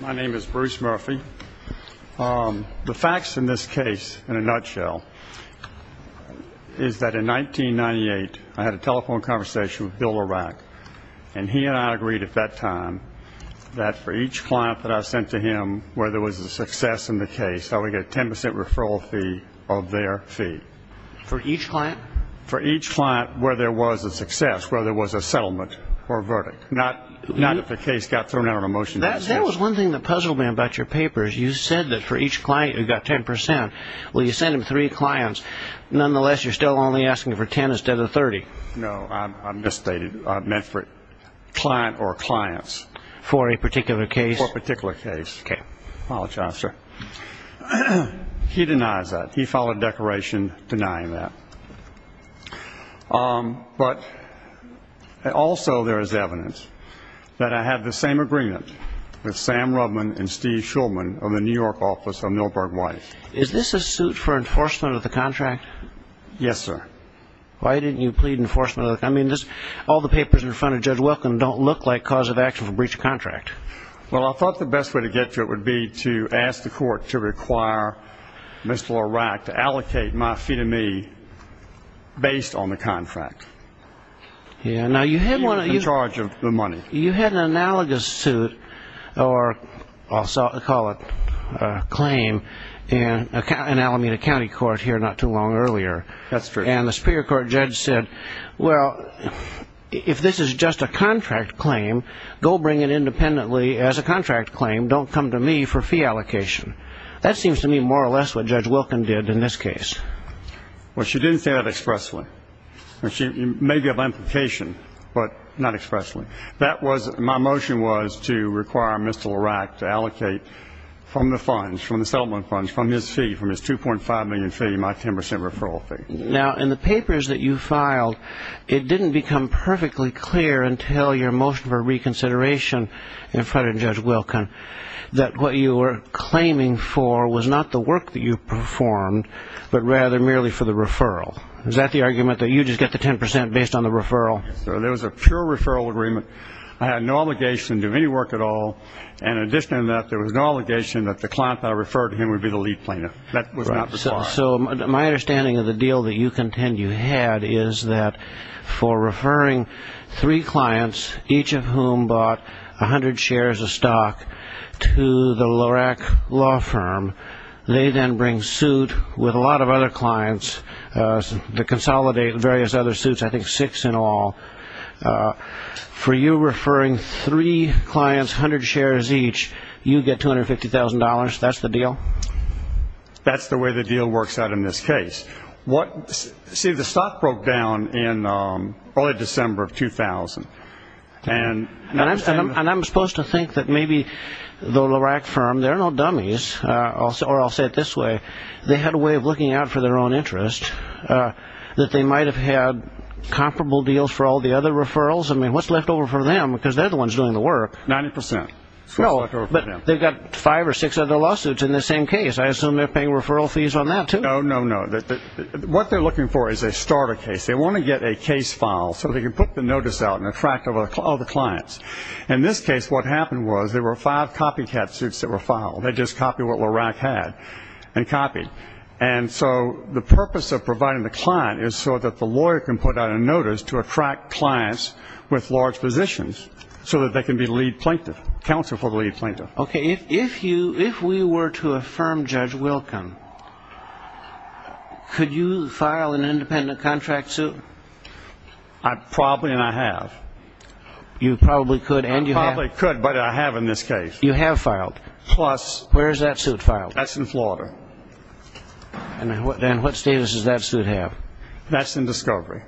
My name is Bruce Murphy. The facts in this case, in a nutshell, is that in 1998, I had a telephone conversation with Bill O'Rourke, and he and I agreed at that time that for each client that I sent to him where there was a success in the case, I would get a 10% referral fee of their fee. For each client? For each client where there was a success, where there was a settlement or verdict, not if the case got thrown out on a motion. That was one thing that puzzled me about your papers. You said that for each client you got 10%. Well, you sent him three clients. Nonetheless, you're still only asking for 10 instead of 30. No, I misstated. I meant for client or clients. For a particular case? For a particular case. Okay. Apologize, sir. He denies that. He filed a declaration denying that. But also there is evidence that I had the same agreement with Sam Rubman and Steve Shulman of the New York office of Milberg White. Is this a suit for enforcement of the contract? Yes, sir. Why didn't you plead enforcement? I mean, all the papers in front of Judge Wilkin don't look like cause of action for breach of contract. Well, I thought the best way to get to it would be to ask the court to require Mr. Lorac to allocate my fee to me based on the contract. In charge of the money. You had an analogous suit, or I'll call it a claim, in Alameda County Court here not too long earlier. That's true. And the Superior Court judge said, well, if this is just a contract claim, go bring it independently as a contract claim. Don't come to me for fee allocation. That seems to me more or less what Judge Wilkin did in this case. Well, she didn't say that expressly. It may be of implication, but not expressly. My motion was to require Mr. Lorac to allocate from the funds, from the settlement funds, from his fee, from his 2.5 million fee, my 10 percent referral fee. Now, in the papers that you filed, it didn't become perfectly clear until your motion for reconsideration in front of Judge Wilkin that what you were claiming for was not the work that you performed, but rather merely for the referral. Is that the argument, that you just get the 10 percent based on the referral? Yes, sir. There was a pure referral agreement. I had no obligation to do any work at all. And in addition to that, there was no obligation that the client that I referred to him would be the lead plaintiff. That was not required. So my understanding of the deal that you contend you had is that for referring three clients, each of whom bought 100 shares of stock to the Lorac law firm, they then bring suit with a lot of other clients to consolidate various other suits, I think six in all. For you referring three clients, 100 shares each, you get $250,000. That's the deal? That's the way the deal works out in this case. See, the stock broke down in early December of 2000. And I'm supposed to think that maybe the Lorac firm, they're no dummies, or I'll say it this way, they had a way of looking out for their own interest, that they might have had comparable deals for all the other referrals. I mean, what's left over for them? Because they're the ones doing the work. 90 percent. But they've got five or six other lawsuits in the same case. I assume they're paying referral fees on that, too. No, no, no. What they're looking for is a starter case. They want to get a case file so they can put the notice out and attract all the clients. In this case, what happened was there were five copycat suits that were filed. They just copied what Lorac had and copied. And so the purpose of providing the client is so that the lawyer can put out a notice to attract clients with large positions so that they can be lead plaintiff, counsel for the lead plaintiff. Okay. If we were to affirm Judge Wilkin, could you file an independent contract suit? Probably, and I have. You probably could, and you have. I probably could, but I have in this case. You have filed. Plus. Where is that suit filed? That's in Florida. And what status does that suit have? That's in discovery.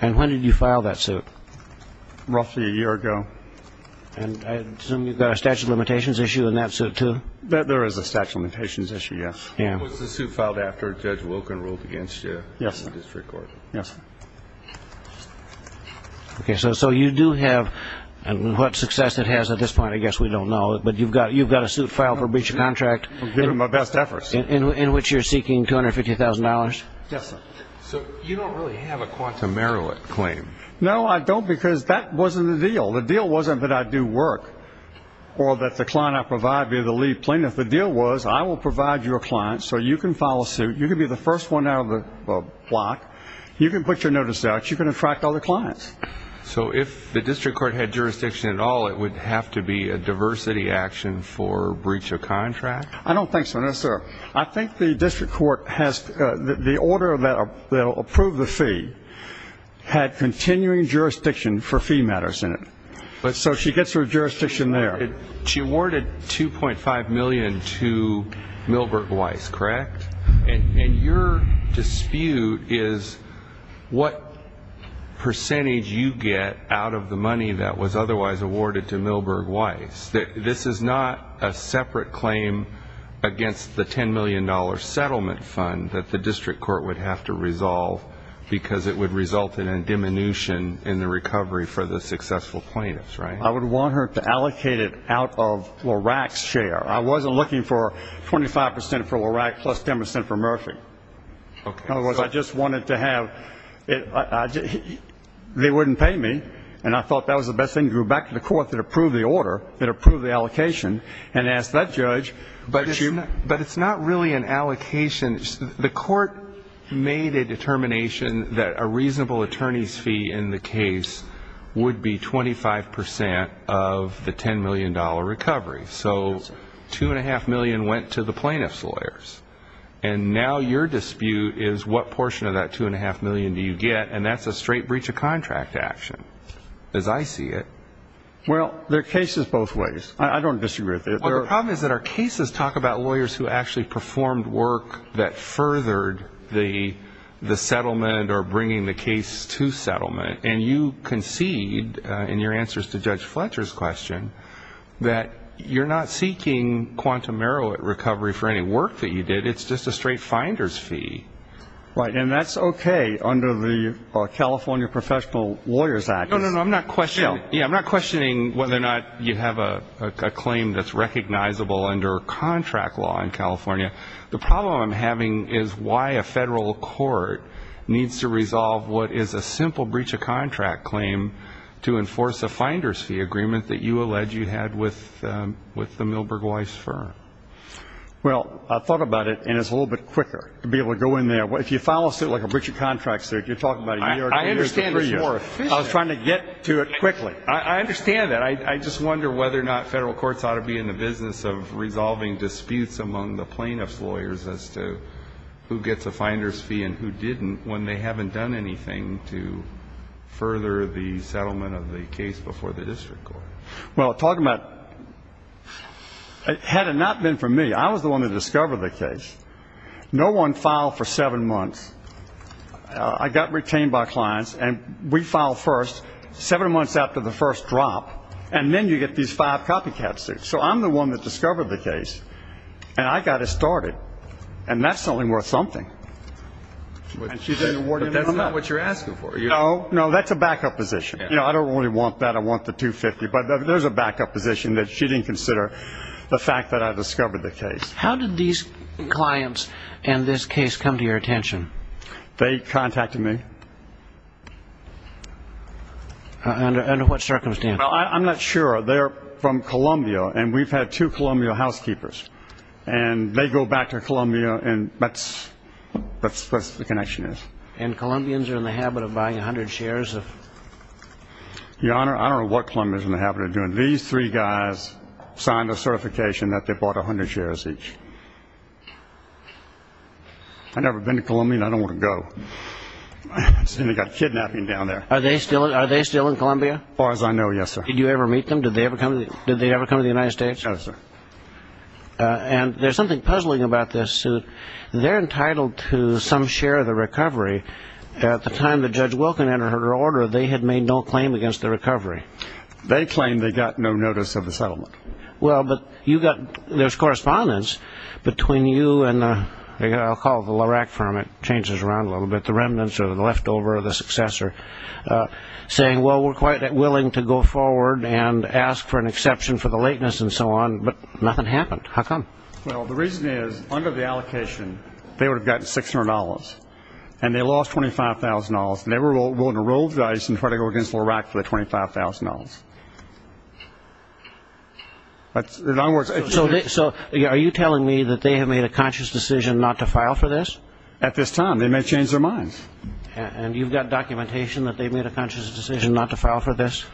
And when did you file that suit? Roughly a year ago. And I assume you've got a statute of limitations issue in that suit, too? There is a statute of limitations issue, yes. Was the suit filed after Judge Wilkin ruled against you in the district court? Yes. Okay, so you do have, and what success it has at this point I guess we don't know, but you've got a suit filed for breach of contract in which you're seeking $250,000? Yes, sir. So you don't really have a quantum merit claim? No, I don't, because that wasn't the deal. The deal wasn't that I do work or that the client I provide be the lead plaintiff. The deal was I will provide your client so you can file a suit. You can be the first one out of the block. You can put your notice out. You can attract other clients. So if the district court had jurisdiction at all, it would have to be a diversity action for breach of contract? I don't think so, no, sir. I think the district court has the order that will approve the fee had continuing jurisdiction for fee matters in it. So she gets her jurisdiction there. She awarded $2.5 million to Milberg Weiss, correct? And your dispute is what percentage you get out of the money that was otherwise awarded to Milberg Weiss. This is not a separate claim against the $10 million settlement fund that the district court would have to resolve because it would result in a diminution in the recovery for the successful plaintiffs, right? I would want her to allocate it out of Lorac's share. I wasn't looking for 25% for Lorac plus 10% for Murphy. In other words, I just wanted to have they wouldn't pay me, and I thought that was the best thing to go back to the court that approved the order, that approved the allocation, and ask that judge. But it's not really an allocation. The court made a determination that a reasonable attorney's fee in the case would be 25% of the $10 million recovery. So $2.5 million went to the plaintiffs' lawyers. And now your dispute is what portion of that $2.5 million do you get, and that's a straight breach of contract action as I see it. Well, they're cases both ways. I don't disagree with you. Well, the problem is that our cases talk about lawyers who actually performed work that furthered the settlement or bringing the case to settlement, and you concede in your answers to Judge Fletcher's question that you're not seeking quantum error recovery for any work that you did. It's just a straight finder's fee. Right. And that's okay under the California Professional Lawyers Act. No, no, no. I'm not questioning whether or not you have a claim that's recognizable under contract law in California. The problem I'm having is why a federal court needs to resolve what is a simple breach of contract claim to enforce a finder's fee agreement that you allege you had with the Milberg Weiss firm. Well, I thought about it, and it's a little bit quicker to be able to go in there. If you file a suit like a breach of contract suit, you're talking about New York. I understand it's more efficient. I was trying to get to it quickly. I understand that. I just wonder whether or not federal courts ought to be in the business of resolving disputes among the plaintiff's lawyers as to who gets a finder's fee and who didn't when they haven't done anything to further the settlement of the case before the district court. Well, talking about it had it not been for me, I was the one that discovered the case. No one filed for seven months. I got retained by clients, and we filed first seven months after the first drop, and then you get these five copycat suits. So I'm the one that discovered the case, and I got it started. And that's only worth something. But that's not what you're asking for. No, no, that's a backup position. You know, I don't really want that. I want the 250. But there's a backup position that she didn't consider, the fact that I discovered the case. How did these clients and this case come to your attention? They contacted me. Under what circumstance? I'm not sure. They're from Columbia, and we've had two Columbia housekeepers. And they go back to Columbia, and that's what the connection is. And Columbians are in the habit of buying 100 shares of? Your Honor, I don't know what Columbians are in the habit of doing. These three guys signed a certification that they bought 100 shares each. I've never been to Columbia, and I don't want to go. They've got kidnapping down there. Are they still in Columbia? As far as I know, yes, sir. Did you ever meet them? Did they ever come to the United States? No, sir. And there's something puzzling about this suit. They're entitled to some share of the recovery. At the time that Judge Wilkin entered her order, they had made no claim against the recovery. They claimed they got no notice of the settlement. Well, but there's correspondence between you and I'll call it the Lorac firm. It changes around a little bit, the remnants or the leftover or the successor, saying, well, we're quite willing to go forward and ask for an exception for the lateness and so on, but nothing happened. How come? Well, the reason is, under the allocation, they would have gotten $600, and they lost $25,000, and they were willing to roll the dice and try to go against Lorac for the $25,000. So are you telling me that they have made a conscious decision not to file for this? At this time, they may change their minds. And you've got documentation that they've made a conscious decision not to file for this?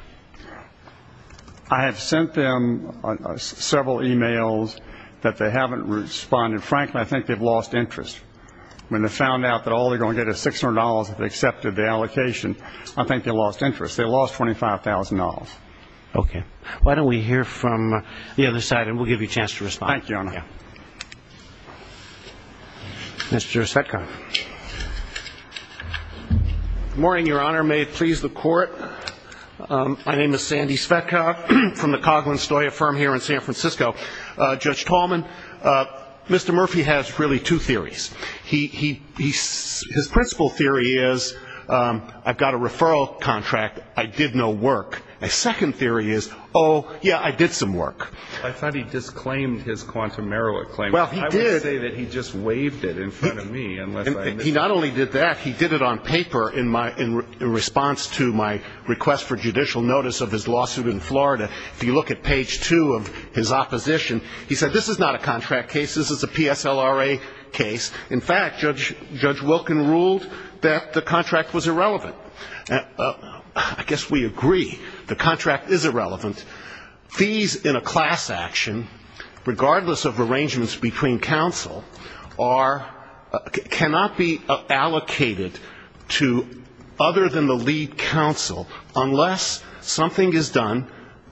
I have sent them several e-mails that they haven't responded. Frankly, I think they've lost interest. When they found out that all they're going to get is $600 if they accepted the allocation, I think they lost interest. They lost $25,000. Okay. Why don't we hear from the other side, and we'll give you a chance to respond. Thank you, Your Honor. Mr. Zetkoff. Good morning, Your Honor. May it please the Court. My name is Sandy Zetkoff from the Coghlan-Stoya firm here in San Francisco. Judge Tallman, Mr. Murphy has really two theories. His principal theory is, I've got a referral contract, I did no work. My second theory is, oh, yeah, I did some work. I thought he disclaimed his quantum merit claim. Well, he did. I would say that he just waved it in front of me. He not only did that, he did it on paper in response to my request for judicial notice of his lawsuit in Florida. If you look at page two of his opposition, he said, this is not a contract case. This is a PSLRA case. In fact, Judge Wilkin ruled that the contract was irrelevant. I guess we agree. The contract is irrelevant. Fees in a class action, regardless of arrangements between counsel, cannot be allocated to other than the lead counsel, unless something is done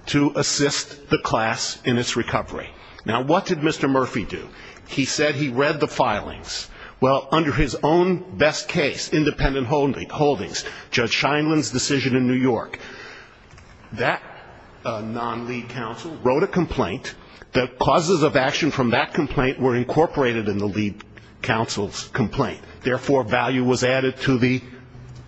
to assist the class in its recovery. Now, what did Mr. Murphy do? He said he read the filings. Well, under his own best case, independent holdings, Judge Scheinman's decision in New York. That non-lead counsel wrote a complaint. The causes of action from that complaint were incorporated in the lead counsel's complaint. Therefore, value was added to the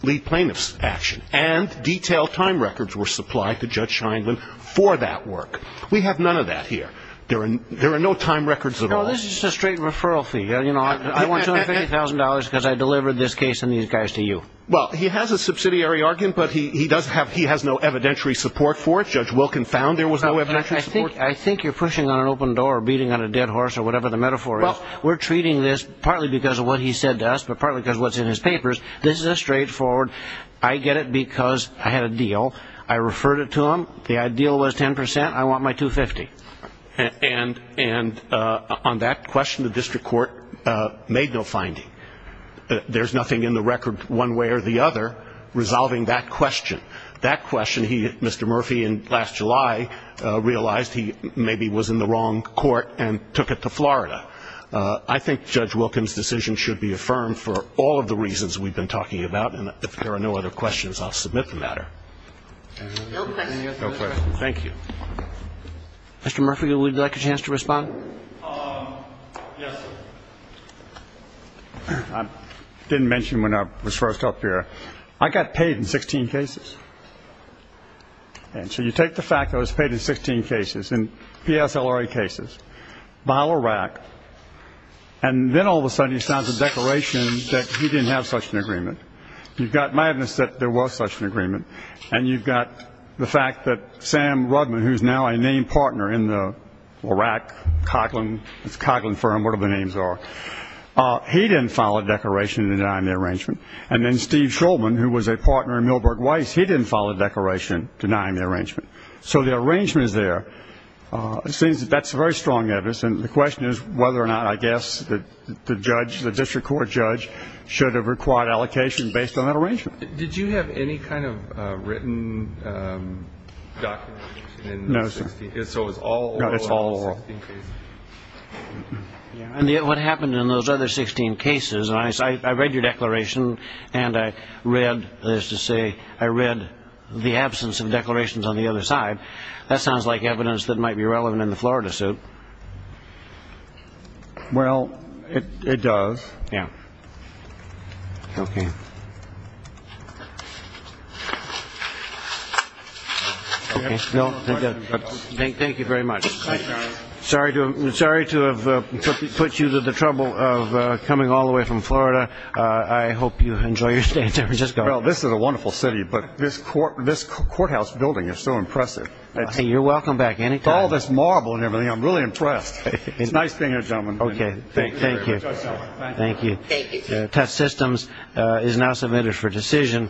lead plaintiff's action. And detailed time records were supplied to Judge Scheinman for that work. We have none of that here. There are no time records at all. No, this is just a straight referral fee. I want $250,000 because I delivered this case and these guys to you. Well, he has a subsidiary argument, but he has no evidentiary support for it. Judge Wilkin found there was no evidentiary support. I think you're pushing on an open door or beating on a dead horse or whatever the metaphor is. We're treating this partly because of what he said to us, but partly because of what's in his papers. This is a straightforward, I get it because I had a deal. I referred it to him. The deal was 10%. I want my $250,000. And on that question, the district court made no finding. There's nothing in the record one way or the other resolving that question. That question, Mr. Murphy in last July realized he maybe was in the wrong court and took it to Florida. I think Judge Wilkin's decision should be affirmed for all of the reasons we've been talking about. And if there are no other questions, I'll submit the matter. No questions. Thank you. Mr. Murphy, would you like a chance to respond? Yes, sir. I didn't mention when I was first up here. I got paid in 16 cases. And so you take the fact I was paid in 16 cases, in PSLRA cases, by LRAC, and then all of a sudden he signs a declaration that he didn't have such an agreement. You've got my evidence that there was such an agreement, and you've got the fact that Sam Rudman, who's now a named partner in the LRAC, Coughlin, it's Coughlin Firm, whatever the names are, he didn't file a declaration denying the arrangement. And then Steve Shulman, who was a partner in Milberg Weiss, he didn't file a declaration denying the arrangement. So the arrangement is there. It seems that that's very strong evidence. And the question is whether or not, I guess, the judge, the district court judge, should have required allocation based on that arrangement. Did you have any kind of written document? No, sir. No, it's all oral. And yet what happened in those other 16 cases, and I read your declaration, and I read, that is to say, I read the absence of declarations on the other side, that sounds like evidence that might be relevant in the Florida suit. Well, it does. Yeah. Okay. Okay. Thank you very much. Sorry to have put you through the trouble of coming all the way from Florida. I hope you enjoy your stay in San Francisco. Well, this is a wonderful city, but this courthouse building is so impressive. You're welcome back any time. With all this marble and everything, I'm really impressed. It's nice being here, gentlemen. Okay. Thank you. Thank you. Thank you. Test systems is now submitted for decision.